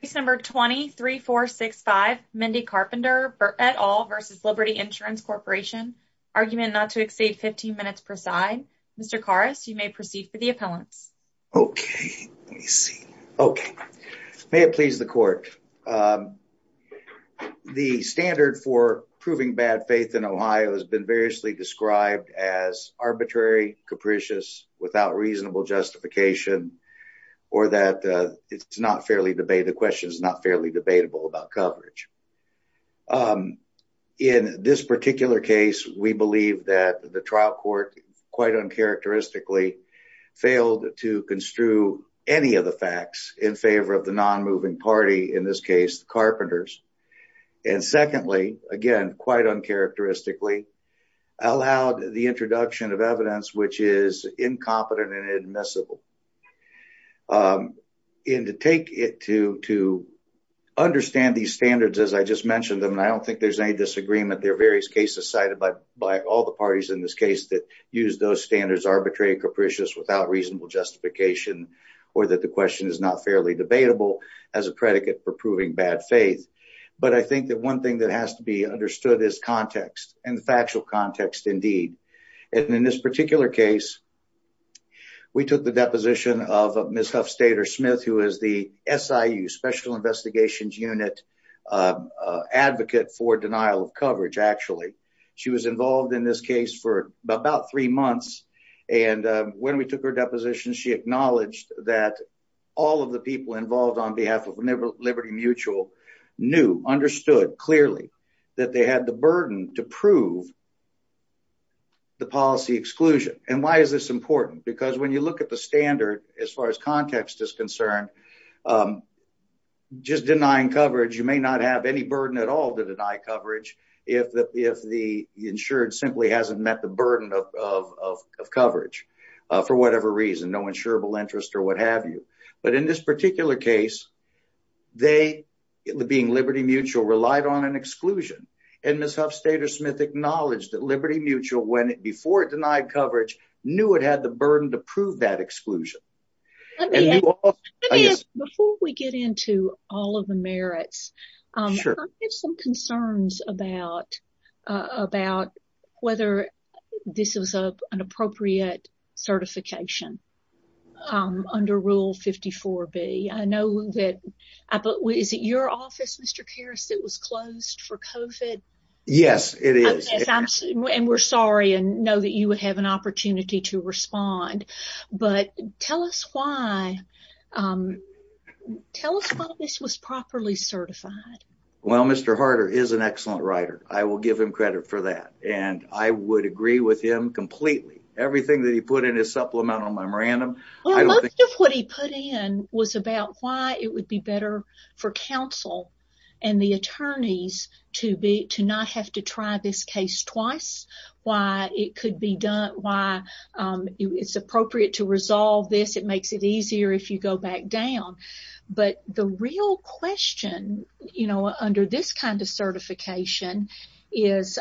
Case number 23465, Mindy Carpenter et al. v. Liberty Insurance Corporation, argument not to exceed 15 minutes per side. Mr. Karas, you may proceed for the appellants. Okay, let me see. Okay, may it please the court. The standard for proving bad faith in Ohio has been variously described as arbitrary, capricious, without reasonable justification, or that it's not fairly debated, the question is not fairly debatable about coverage. In this particular case, we believe that the trial court, quite uncharacteristically, failed to construe any of the facts in favor of the non-moving party, in this case the Carpenters. And secondly, again quite uncharacteristically, allowed the incompetent and inadmissible. And to take it to understand these standards as I just mentioned them, and I don't think there's any disagreement, there are various cases cited by all the parties in this case that use those standards, arbitrary, capricious, without reasonable justification, or that the question is not fairly debatable as a predicate for proving bad faith. But I think that one thing that has to be understood is context, and the factual context indeed. And in this particular case, we took the deposition of Ms. Huffstader-Smith, who is the SIU Special Investigations Unit Advocate for Denial of Coverage, actually. She was involved in this case for about three months, and when we took her deposition, she acknowledged that all of the people involved on behalf of Liberty Mutual knew, understood clearly, that they had the burden to prove the policy exclusion. And why is this important? Because when you look at the standard as far as context is concerned, just denying coverage, you may not have any burden at all to deny coverage if the insured simply hasn't met the burden of coverage for whatever reason, no insurable interest or what have you. But in this particular case, they, being Liberty Mutual, relied on an exclusion, and Ms. Huffstader-Smith acknowledged that Liberty Mutual, before it denied coverage, knew it had the burden to prove that exclusion. Let me ask, before we get into all of the merits, I have some concerns about whether this was an appropriate certification under Rule 54B. I know that, is it your office, Mr. Karras, that was closed for COVID? Yes, it is. And we're sorry and know that you would have an opportunity to respond. But tell us why this was properly certified. Well, Mr. Harder is an excellent writer. I will give him credit for that, and I would agree with him completely. Everything that he put in his supplemental memorandum, what he put in was about why it would be better for counsel and the attorneys to be, to not have to try this case twice, why it could be done, why it's appropriate to resolve this. It makes it easier if you go back down. But the real question, you know, under this kind of certification is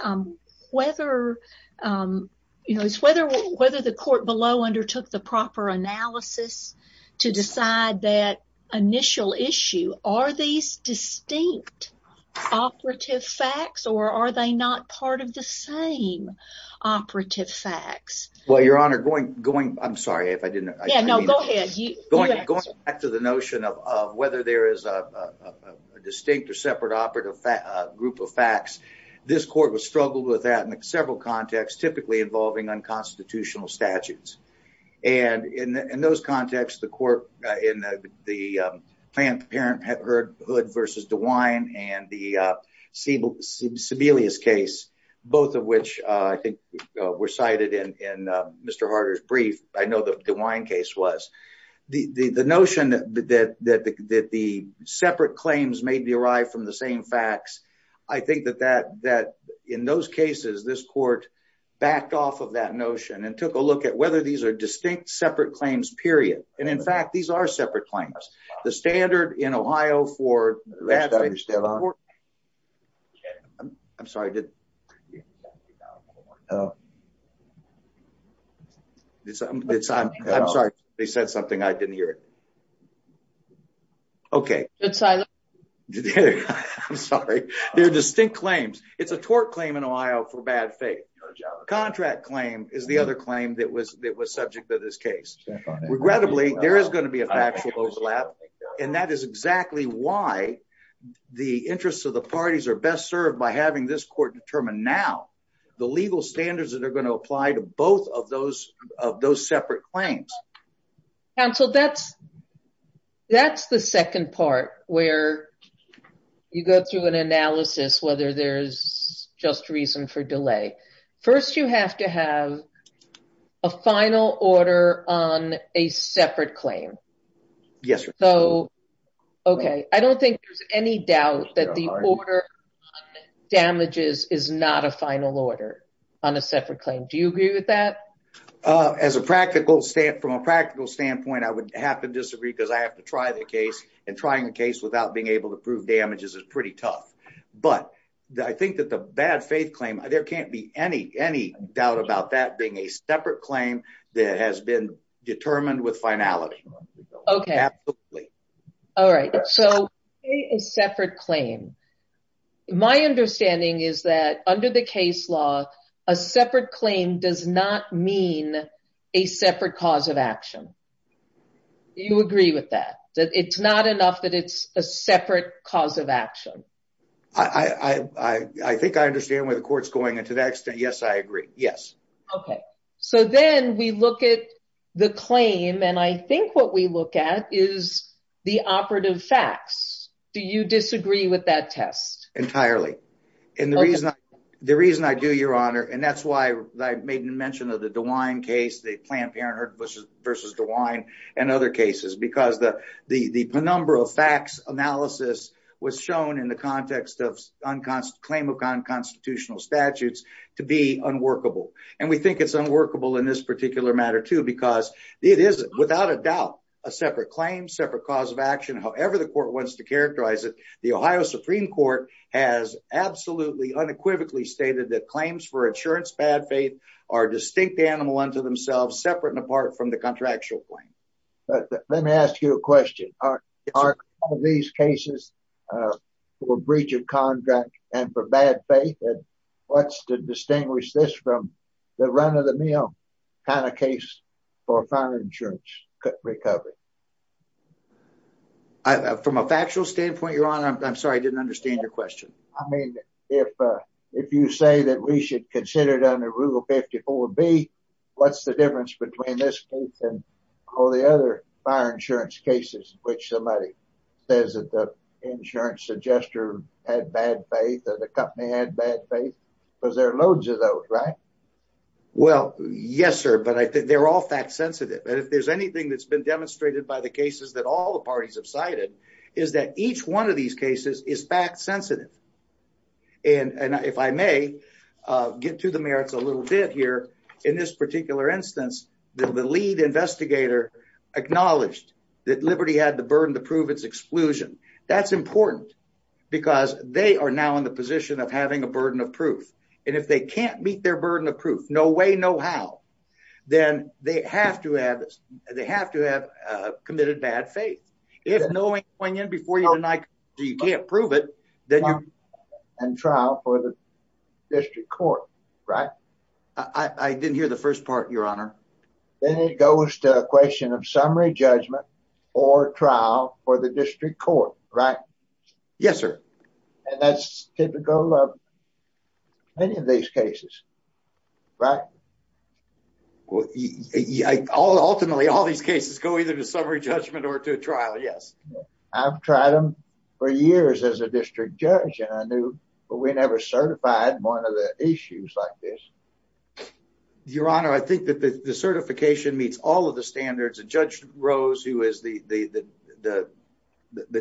whether, you know, whether the court below undertook the proper analysis to decide that initial issue. Are these distinct operative facts, or are they not part of the same operative facts? Well, Your Honor, going, I'm sorry if I didn't. Yeah, no, go ahead. Going back to the notion of whether there is a distinct or separate operative group of facts, this court was struggled with that in several contexts, typically involving unconstitutional statutes. And in those contexts, the court, in the Planned Parenthood versus DeWine and the Sebelius case, both of which I think were cited in Mr. Harder's brief, I know the DeWine case was. The notion that the separate claims may be derived from the same facts, I think that in those cases, this court backed off of that notion and took a look at whether these are distinct separate claims, period. And in fact, these are separate claims. The standard in Ohio for that. I'm sorry. I'm sorry. They said something. I didn't hear it. I'm sorry. They're distinct claims. It's a tort claim in Ohio for bad faith. Contract claim is the other claim that was subject to this case. Regrettably, there is going to be a factual overlap. And that is exactly why the interests of the parties are best served by having this court determine now the legal standards that are going to apply to I'm going to go to the next part where you go through an analysis, whether there's just reason for delay. First, you have to have a final order on a separate claim. Yes. So, OK, I don't think there's any doubt that the order damages is not a final order on a separate claim. Do you agree with that? As a practical state, from a practical standpoint, I would have to disagree because I have to try the case and trying the case without being able to prove damages is pretty tough. But I think that the bad faith claim, there can't be any any doubt about that being a separate claim that has been determined with finality. OK, absolutely. All right. So a separate claim. My understanding is that under the case law, a separate claim does not mean a separate cause of action. You agree with that, that it's not enough, that it's a separate cause of action. I think I understand where the court's going. And to that extent, yes, I agree. Yes. OK, so then we look at the claim and I think what we look at is the operative facts. Do you The reason I do, Your Honor, and that's why I made mention of the DeWine case, the Planned Parenthood versus DeWine and other cases, because the the number of facts analysis was shown in the context of unconstitutional statutes to be unworkable. And we think it's unworkable in this particular matter, too, because it is without a doubt a separate claim, separate cause of action. However, the court wants to characterize it. The Ohio Supreme Court has absolutely unequivocally stated that claims for insurance, bad faith are distinct animal unto themselves, separate and apart from the contractual claim. Let me ask you a question. Are these cases for breach of contract and for bad faith? And what's to distinguish this from the run of the mill kind of case for insurance recovery? I, from a factual standpoint, Your Honor, I'm sorry, I didn't understand your question. I mean, if if you say that we should consider it under Rule 54B, what's the difference between this case and all the other fire insurance cases in which somebody says that the insurance suggester had bad faith or the company had bad faith? Because there are loads of those, right? Well, yes, sir. But I think they're all fact sensitive. And if there's anything that's been demonstrated by the cases that all the parties have cited is that each one of these cases is fact sensitive. And if I may get to the merits a little bit here in this particular instance, the lead investigator acknowledged that Liberty had the burden to prove its exclusion. That's important because they are now in the position of having a burden of proof. And if they can't meet their burden of proof, no way, no how, then they have to have they have to have committed bad faith. If knowing going in before you deny, you can't prove it, then you and trial for the district court. Right. I didn't hear the first part, Your Honor. Then it goes to a question of summary judgment or trial for the district court. Right. Yes, sir. And that's typical of any of these cases. Right. Well, ultimately, all these cases go either to summary judgment or to trial. Yes, I've tried them for years as a district judge, and I knew, but we never certified one of the issues like this. Your Honor, I think that the certification meets all of the standards of Judge Rose, who is the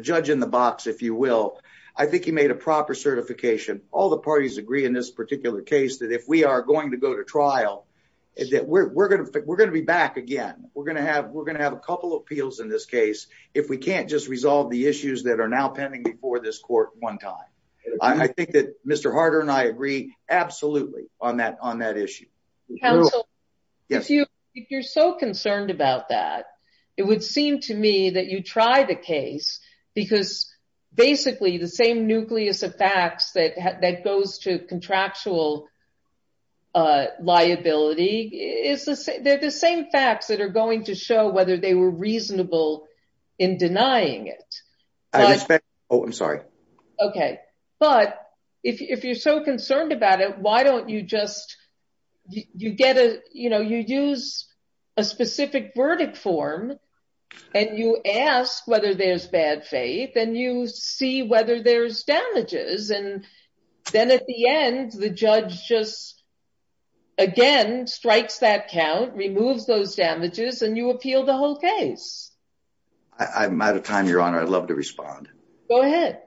judge in the box, if you will. I think he made a proper certification. All the parties agree in this particular case that if we are going to go to trial, that we're going to be back again. We're going to have we're going to have a couple of appeals in this case if we can't just resolve the issues that are now pending before this court one time. I think that Mr. Counsel, if you if you're so concerned about that, it would seem to me that you try the case because basically the same nucleus of facts that that goes to contractual liability is the same facts that are going to show whether they were reasonable in denying it. Oh, I'm sorry. Okay. But if you're so concerned about it, why don't you just you get a you know, you use a specific verdict form and you ask whether there's bad faith and you see whether there's damages. And then at the end, the judge just again, strikes that count, removes those damages and you appeal the whole case. I'm out of time, Your Honor. I'd love to respond. Go ahead.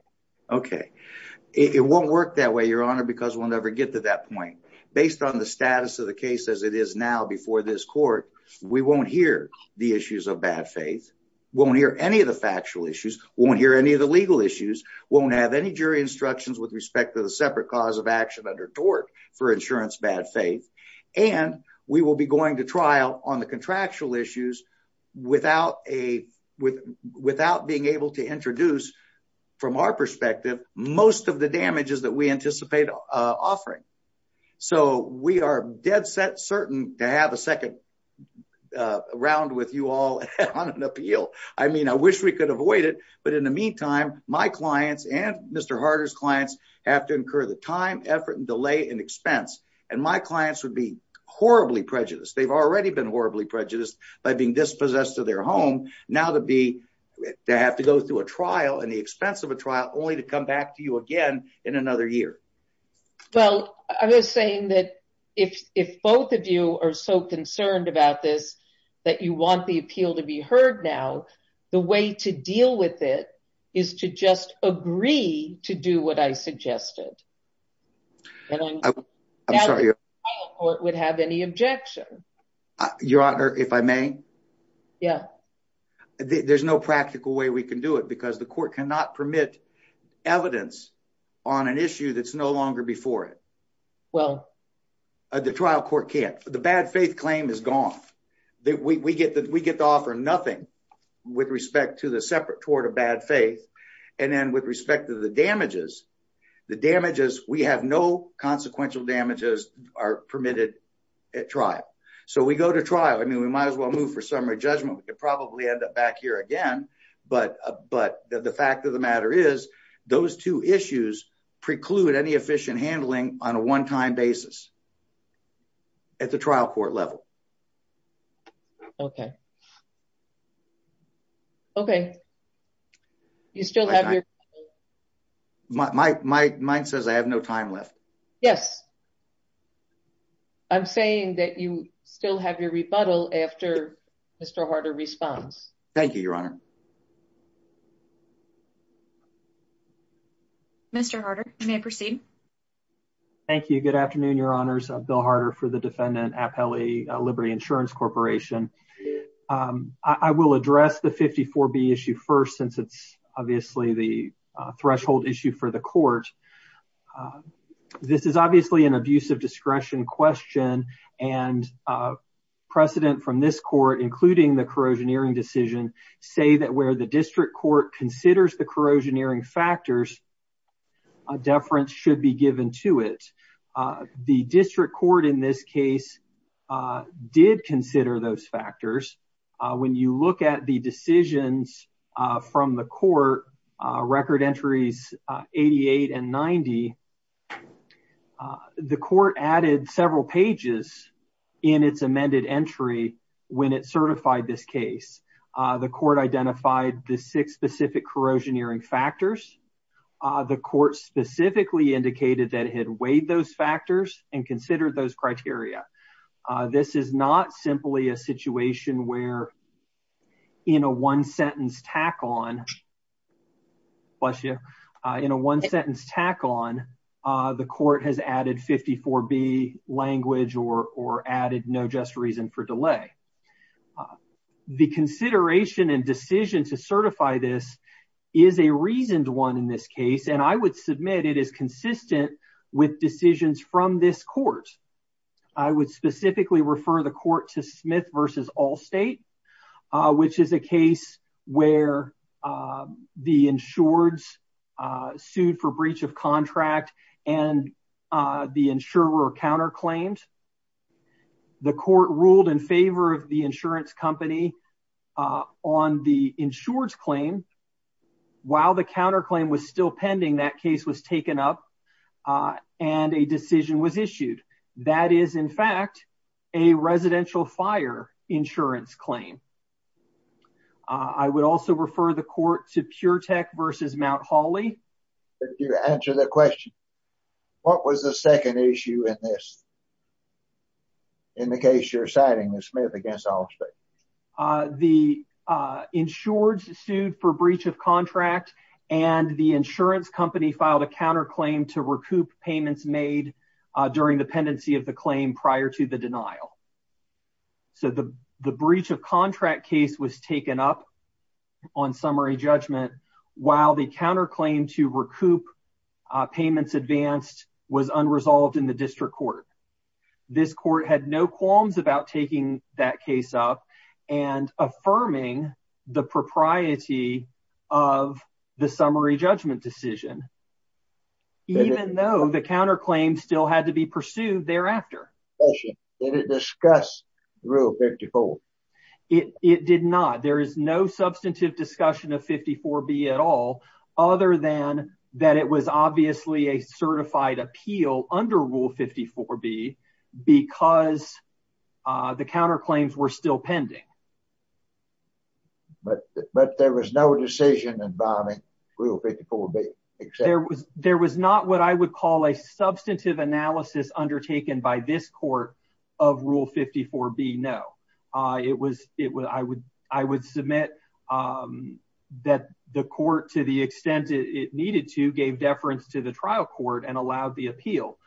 Okay. It won't work that way, Your Honor, because we'll never get to that point. Based on the status of the case as it is now before this court, we won't hear the issues of bad faith, won't hear any of the factual issues, won't hear any of the legal issues, won't have any jury instructions with respect to the separate cause of action under tort for insurance, bad faith. And we will be going to trial on the contractual issues without a without being able to introduce from our damages that we anticipate offering. So we are dead set certain to have a second round with you all on an appeal. I mean, I wish we could avoid it. But in the meantime, my clients and Mr. Harder's clients have to incur the time, effort and delay and expense. And my clients would be horribly prejudiced. They've already been horribly prejudiced by being dispossessed of their home. Now to be they have to go through a trial and the expense of a trial only to come back to you again in another year. Well, I was saying that if if both of you are so concerned about this, that you want the appeal to be heard now, the way to deal with it is to just agree to do what I suggested. And I'm sorry, your court would have any objection, Your Honor, if I Yeah. There's no practical way we can do it because the court cannot permit evidence on an issue that's no longer before it. Well, the trial court can't. The bad faith claim is gone that we get that we get to offer nothing with respect to the separate tort of bad faith. And then with respect to the damages, the damages, we have no consequential damages are permitted at So we go to trial. I mean, we might as well move for summary judgment. We could probably end up back here again. But but the fact of the matter is those two issues preclude any efficient handling on a one time basis. At the trial court level. OK. OK. You still have your. My mind says I have no time left. Yes. I'm saying that you still have your rebuttal after Mr Harder response. Thank you, Your Honor. Mr Harder may proceed. Thank you. Good afternoon, Your Honors. Bill Harder for the defendant appellee, Liberty Insurance Corporation. I will address the 54B issue first since it's obviously the threshold issue for the court. This is obviously an abuse of discretion question and precedent from this court, including the corrosion hearing decision, say that where the district court considers the corrosion hearing factors, a deference should be given to it. The district court in this case did consider those factors. When you look at the decisions from the court record entries, 88 and 90. The court added several pages in its amended entry when it certified this case. The court identified the six specific corrosion hearing factors. The court specifically indicated that it weighed those factors and considered those criteria. This is not simply a situation where in a one sentence tack on. Bless you. In a one sentence tack on the court has added 54B language or or added no just reason for delay. The consideration and decision to certify this is a reasoned one in this case, and I would submit it is consistent with decisions from this court. I would specifically refer the court to Smith versus Allstate, which is a case where the insureds sued for breach of contract and the insurer counterclaimed. The court ruled in favor of the insurance company on the insureds claim. While the counterclaim was still pending, that case was taken up and a decision was issued. That is, in fact, a residential fire insurance claim. I would also refer the court to Pure Tech versus Mount Holly. Could you answer the question? What was the second issue in this in the case you're citing with Smith against Allstate? The insureds sued for breach of contract and the insurance company filed a counterclaim to recoup payments made during the pendency of the claim prior to the denial. So the the breach of contract case was taken up on summary judgment while the counterclaim to recoup payments advanced was unresolved in the district court. This court had no qualms about taking that case up and affirming the propriety of the summary judgment decision, even though the counterclaim still had to be pursued thereafter. Did it discuss Rule 54? It did not. There is no substantive discussion of 54B at all, other than that it was obviously a certified appeal under Rule 54B because the counterclaims were still pending. But there was no decision involving Rule 54B? There was not what I would call a substantive analysis undertaken by this court of Rule 54B, no. I would submit that the court, to the extent it needed to, gave deference to the trial court and allowed the appeal.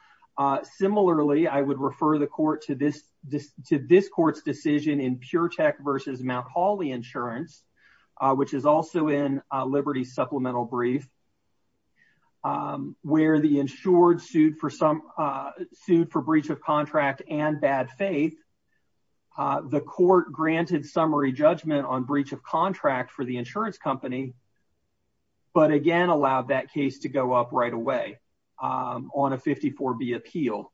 Similarly, I would refer the court to this court's decision in Pure Tech v. Mount Holly Insurance, which is also in Liberty's supplemental brief, where the insured sued for breach of contract and bad faith. The court granted summary judgment on breach of contract for the insurance company, but again allowed that case to go up right away on a 54B appeal,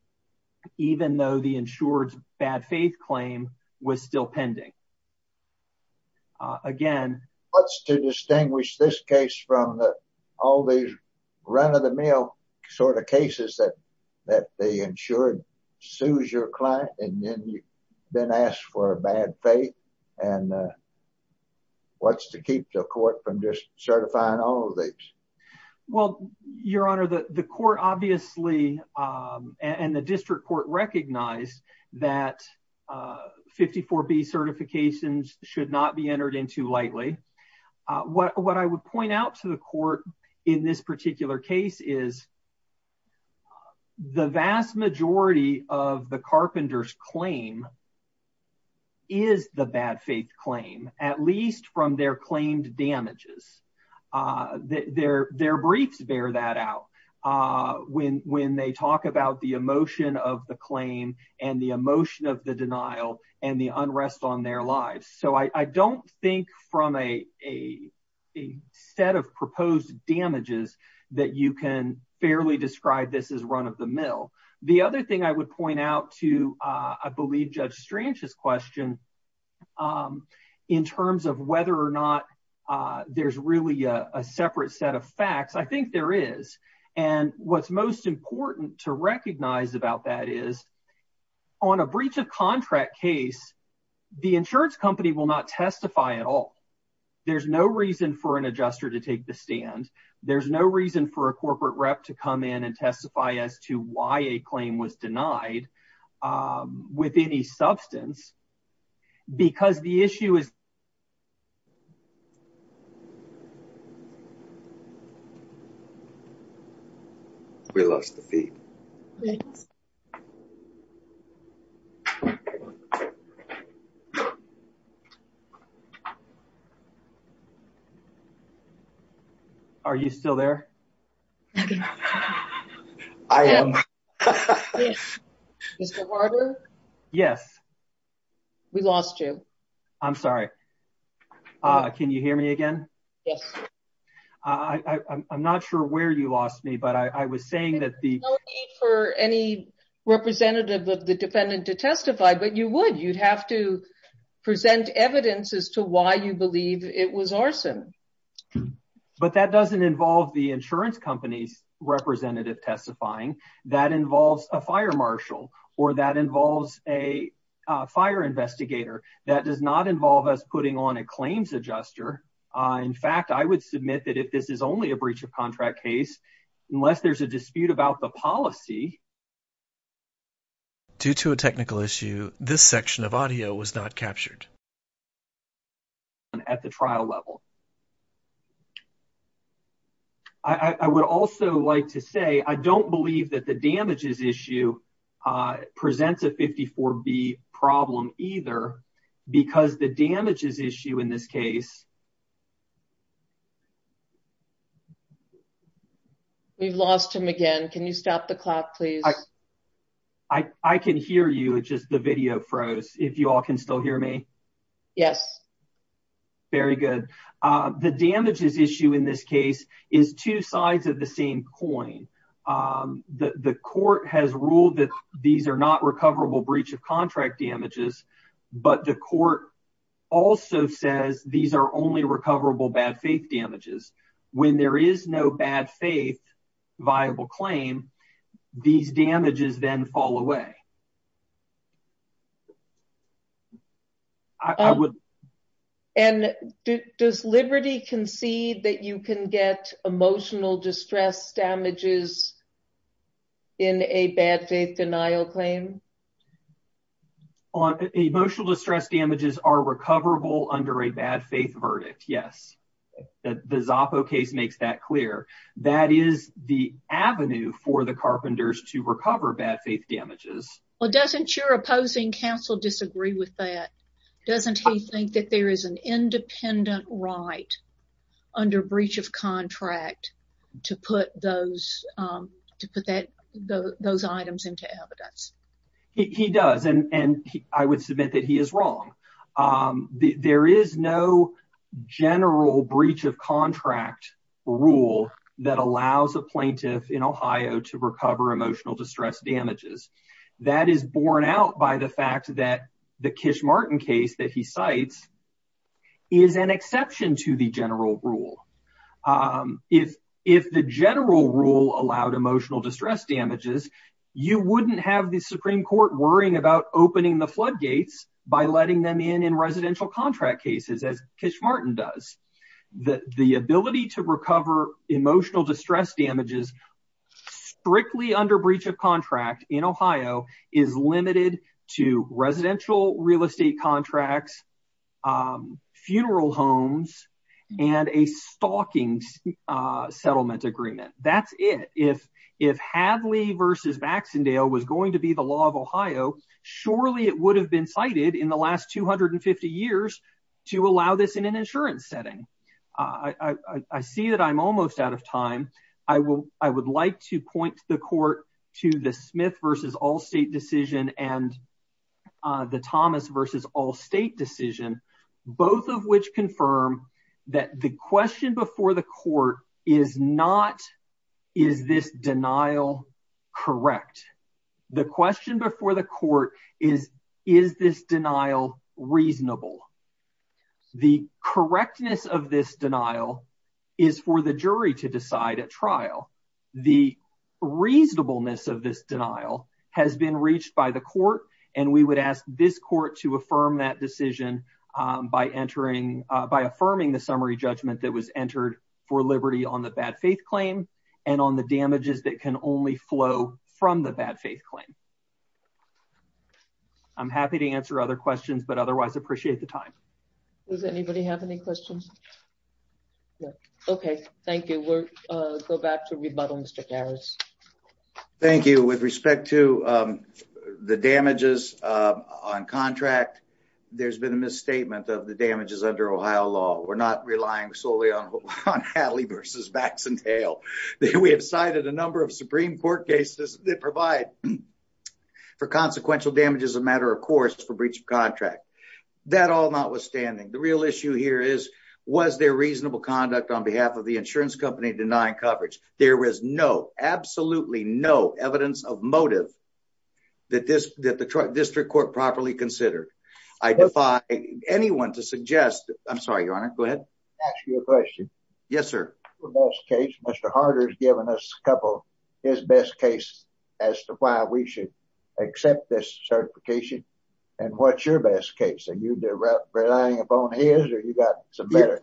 even though the insured's bad faith claim was still pending. What's to distinguish this case from all these run-of-the-mill sort of cases that the insured sues your client and then asks for a bad faith? What's to keep the court from just obviously, and the district court recognized that 54B certifications should not be entered in too lightly. What I would point out to the court in this particular case is the vast majority of the carpenter's claim is the bad faith claim, at least from their claimed damages. Their briefs bear that out when they talk about the emotion of the claim and the emotion of the denial and the unrest on their lives. So I don't think from a set of proposed damages that you can fairly describe this as run-of-the-mill. The other thing I would point out to I believe Judge Strange's question in terms of whether or not there's really a separate set of facts, I think there is. And what's most important to recognize about that is on a breach of contract case, the insurance company will not testify at all. There's no reason for an adjuster to take the stand. There's no reason for a corporate rep to come in and testify as to why a claim was denied with any substance because the issue is... We lost the feed. Are you still there? I am. Yes. We lost you. I'm sorry. Can you hear me again? Yes. I'm not sure where you lost me, but I was saying that the... No need for any representative of the defendant to testify, but you would. You'd have to present evidence as to why you believe it was arson. But that doesn't involve the insurance company's representative testifying. That involves a fire marshal or that involves a fire investigator. That does not involve us putting on a claims adjuster. In fact, I would submit that if this is only a breach of contract case, unless there's a dispute about the policy... Due to a technical issue, this section of audio was not captured. ...at the trial level. I would also like to say, I don't believe that the damages issue presents a 54B problem either because the damages issue in this case... We've lost him again. Can you stop the clock, please? I can hear you. It's just the video froze, if you all can still hear me. Yes. Very good. The damages issue in this case is two sides of the same coin. The court has ruled that these are not recoverable breach of contract damages, but the court also says these are only recoverable bad faith damages. When there is no bad faith viable claim, these damages then fall away. And does Liberty concede that you can get emotional distress damages in a bad faith denial claim? Emotional distress damages are recoverable under a bad faith verdict. Yes. The Zoppo case makes that clear. That is the avenue for the carpenters to recover bad faith damages. Well, doesn't your opposing counsel disagree with that? Doesn't he think that there is an independent right under breach of contract to put those items into evidence? He does, and I would submit that he is wrong. There is no general breach of contract rule that allows a plaintiff in Ohio to recover emotional distress damages. That is borne out by the fact that the Kish-Martin case that he cites is an exception to the general rule. If the general rule allowed emotional distress damages, you wouldn't have the Supreme Court worrying about opening the floodgates by letting them in in residential contract cases, as Kish-Martin does. The ability to recover emotional distress damages strictly under breach of contract in Ohio is limited to residential real estate contracts, funeral homes, and a stalking settlement agreement. That is it. If Hadley v. Baxendale was going to be the law of Ohio, surely it would have been cited in the last 250 years to allow this in an insurance setting. I see that I am almost out of time. I would like to point the court to the Smith v. Allstate decision and the Thomas v. Allstate decision, both of which confirm that the question before the court is not, is this denial correct? The question before the court is, is this denial reasonable? The correctness of this denial is for the jury to decide at trial. The reasonableness of this decision is for the jury to confirm that decision by affirming the summary judgment that was entered for liberty on the bad faith claim and on the damages that can only flow from the bad faith claim. I'm happy to answer other questions, but otherwise appreciate the time. Does anybody have any questions? Okay, thank you. We'll go back to rebuttal, Mr. Garris. Thank you. With respect to the damages on contract, there's been a misstatement of the damages under Ohio law. We're not relying solely on Hadley v. Baxendale. We have cited a number of Supreme Court cases that provide for consequential damage as a matter of course for breach of contract. That all notwithstanding, the real issue here is, was there reasonable conduct on behalf of the insurance company denying coverage? There was no, absolutely no, evidence of motive that the district court properly considered. I defy anyone to suggest, I'm sorry, your honor, go ahead. Ask you a question. Yes, sir. The best case, Mr. Harder's given us a couple his best case as to why we should accept this certification, and what's your best case? Are relying upon his, or you got some better?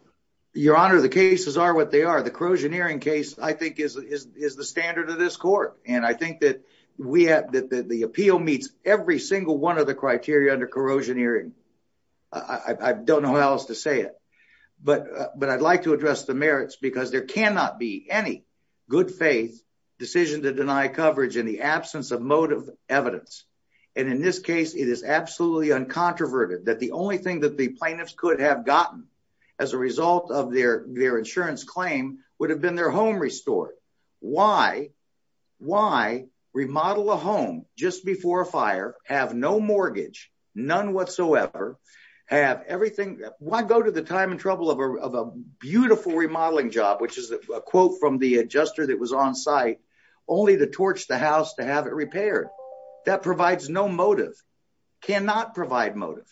Your honor, the cases are what they are. The corrosion hearing case, I think, is the standard of this court, and I think that the appeal meets every single one of the criteria under corrosion hearing. I don't know how else to say it, but I'd like to address the merits because there cannot be any good faith decision to deny coverage in the absence of motive evidence, and in this case, it is absolutely uncontroverted that the only thing that the plaintiffs could have gotten as a result of their insurance claim would have been their home restored. Why? Why remodel a home just before a fire, have no mortgage, none whatsoever, have everything? Why go to the time and trouble of a beautiful remodeling job, which is a quote from the adjuster that was on site, only to torch the house to have it repaired? That provides no motive, cannot provide motive,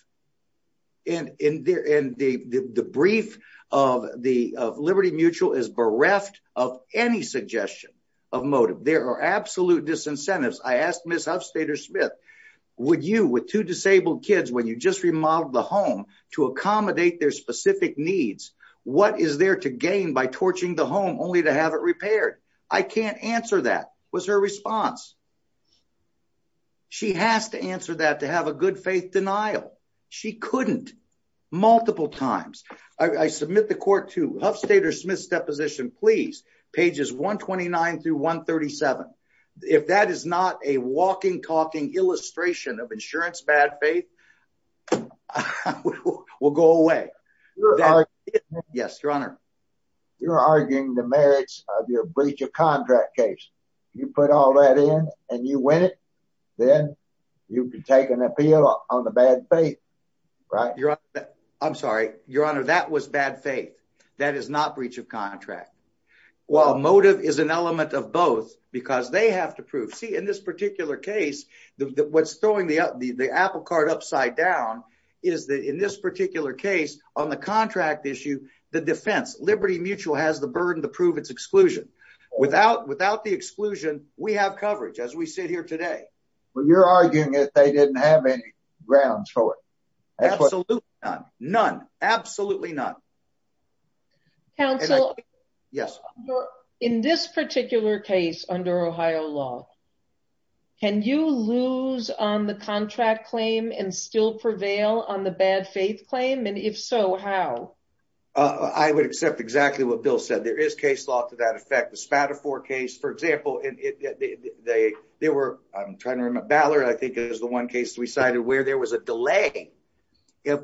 and the brief of Liberty Mutual is bereft of any suggestion of motive. There are absolute disincentives. I asked Ms. Huffstader-Smith, would you, with two disabled kids, when you just remodeled the home to accommodate their specific needs, what is there to gain by torching the home only to have it repaired? I can't answer that was her response. She has to answer that to have a good faith denial. She couldn't, multiple times. I submit the court to Huffstader-Smith's deposition, please, pages 129 through 137. If that is not a walking, talking illustration of insurance bad faith, we'll go away. Yes, your honor. You're arguing the merits of your breach of contract case. You put all that in and you win it, then you can take an appeal on the bad faith, right? I'm sorry, your honor. That was bad faith. That is not breach of contract. Well, motive is an element of both because they have to prove. See, in this particular case, what's throwing the apple cart upside down is that in this particular case, on the contract issue, the defense, Liberty Mutual has the burden to prove its exclusion. Without the exclusion, we have coverage as we sit here today. But you're arguing that they didn't have any grounds for it. Absolutely none. None. Absolutely none. Counsel, in this particular case under Ohio law, can you lose on the contract claim and still I would accept exactly what Bill said. There is case law to that effect. The Spadafore case, for example, there were, I'm trying to remember, Ballard, I think is the one case we cited where there was a delay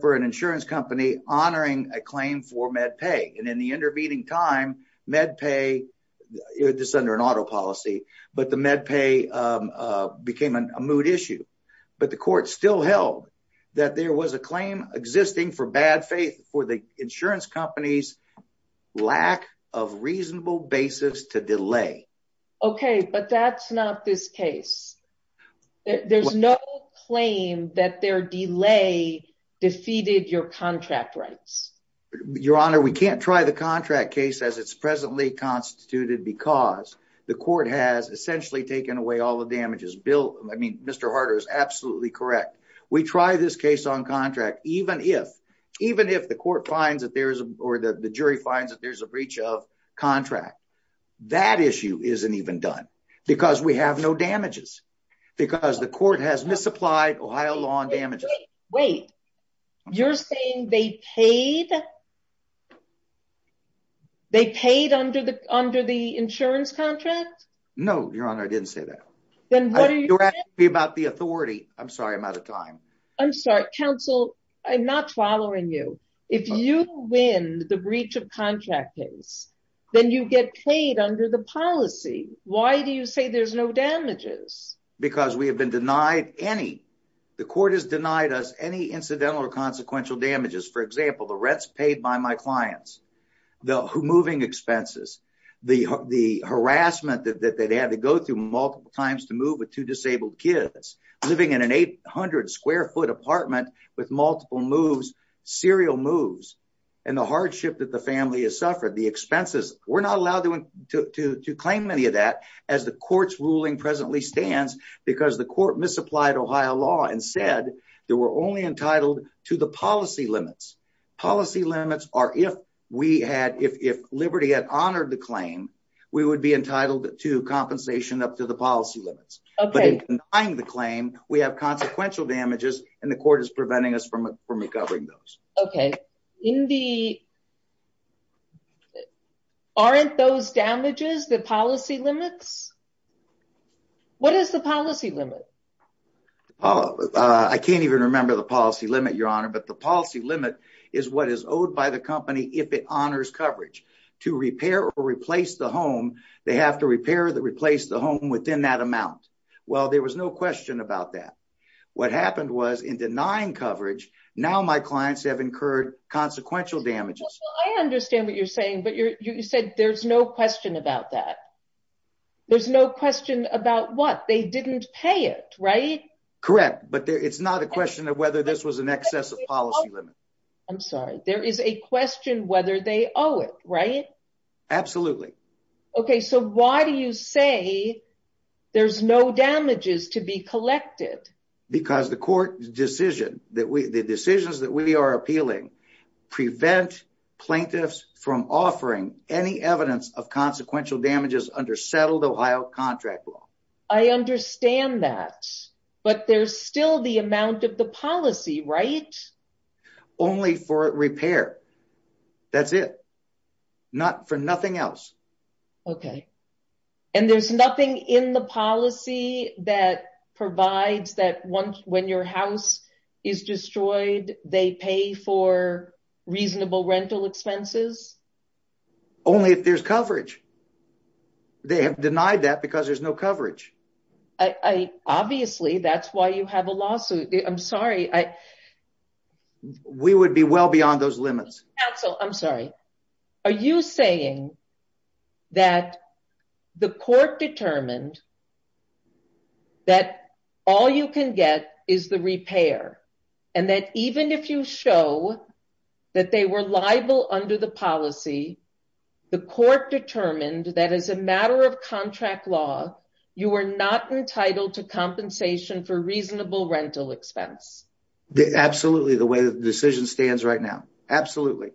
for an insurance company honoring a claim for MedPay. And in the intervening time, MedPay, this is under an auto policy, but the MedPay became a moot issue. But the court still held that there was a claim existing for bad faith for the insurance company's lack of reasonable basis to delay. OK, but that's not this case. There's no claim that their delay defeated your contract rights. Your Honor, we can't try the contract case as it's presently constituted because the court has essentially taken away all the damages. Bill, I mean, Mr. Harder is absolutely correct. We try this case on contract even if even if the court finds that there is or the jury finds that there's a breach of contract. That issue isn't even done because we have no damages, because the court has misapplied Ohio law on damages. Wait, you're saying they paid? They paid under the under the insurance contract? No, Your Honor, I didn't say that. Then what are you asking me about the authority? I'm sorry, I'm out of time. I'm sorry, counsel. I'm not following you. If you win the breach of contract case, then you get paid under the policy. Why do you say there's no damages? Because we have been denied any. The court has denied us any incidental or consequential damages. For example, the rents paid by my clients, the moving expenses, the harassment that they had to go through multiple times to move with two disabled kids, living in an 800 square foot apartment with multiple moves, serial moves, and the hardship that the family has suffered, the expenses. We're not allowed to claim any of that as the court's ruling presently stands because the court misapplied Ohio law and said they were only entitled to the policy limits. Policy limits are if we had, if Liberty had honored the claim, we would be entitled to compensation up to the policy limits. But denying the claim, we have consequential damages and the court is preventing us from recovering those. Okay. Aren't those damages the policy limits? What is the policy limit? I can't even remember the policy limit, Your Honor, but the policy limit is what is owed by the company if it honors coverage. To repair or replace the home, they have to repair or replace the home within that amount. Well, there was no question about that. What happened was in denying coverage, now my clients have incurred consequential damages. I understand what you're saying, but you said there's no question about that. There's no question about what? They didn't pay it, right? Correct. But it's not a question of whether this was an excess of policy limit. I'm sorry. There is a question whether they owe it, right? Absolutely. Okay. So why do you say there's no damages to be collected? Because the court's decision, the decisions that we are appealing prevent plaintiffs from offering any evidence of consequential damages under settled Ohio contract law. I understand that, but there's still the amount of the policy, right? Only for repair. That's it. For nothing else. Okay. And there's nothing in the policy that provides that when your house is destroyed, they pay for reasonable rental expenses? Only if there's coverage. They have denied that because there's no coverage. Obviously, that's why you have a lawsuit. I'm sorry. We would be well beyond those limits. Counsel, I'm sorry. Are you saying that the court determined that all you can get is the repair and that even if you show that they were liable under the policy, the court determined that as a matter of contract law, you are not entitled to compensation for reasonable rental expense? Absolutely. The way the decision stands right now. Absolutely.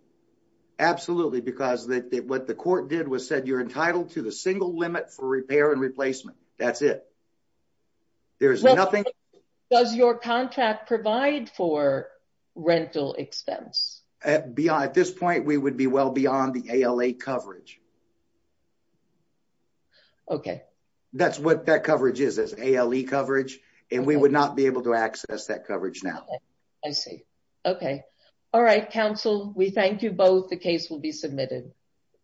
Absolutely. Because what the court did was said, you're entitled to the single limit for repair and replacement. That's it. Does your contract provide for rental expense? At this point, we would be well beyond the ALA coverage. Okay. That's what that coverage is, is ALE coverage, and we would not be able to counsel. We thank you both. The case will be submitted.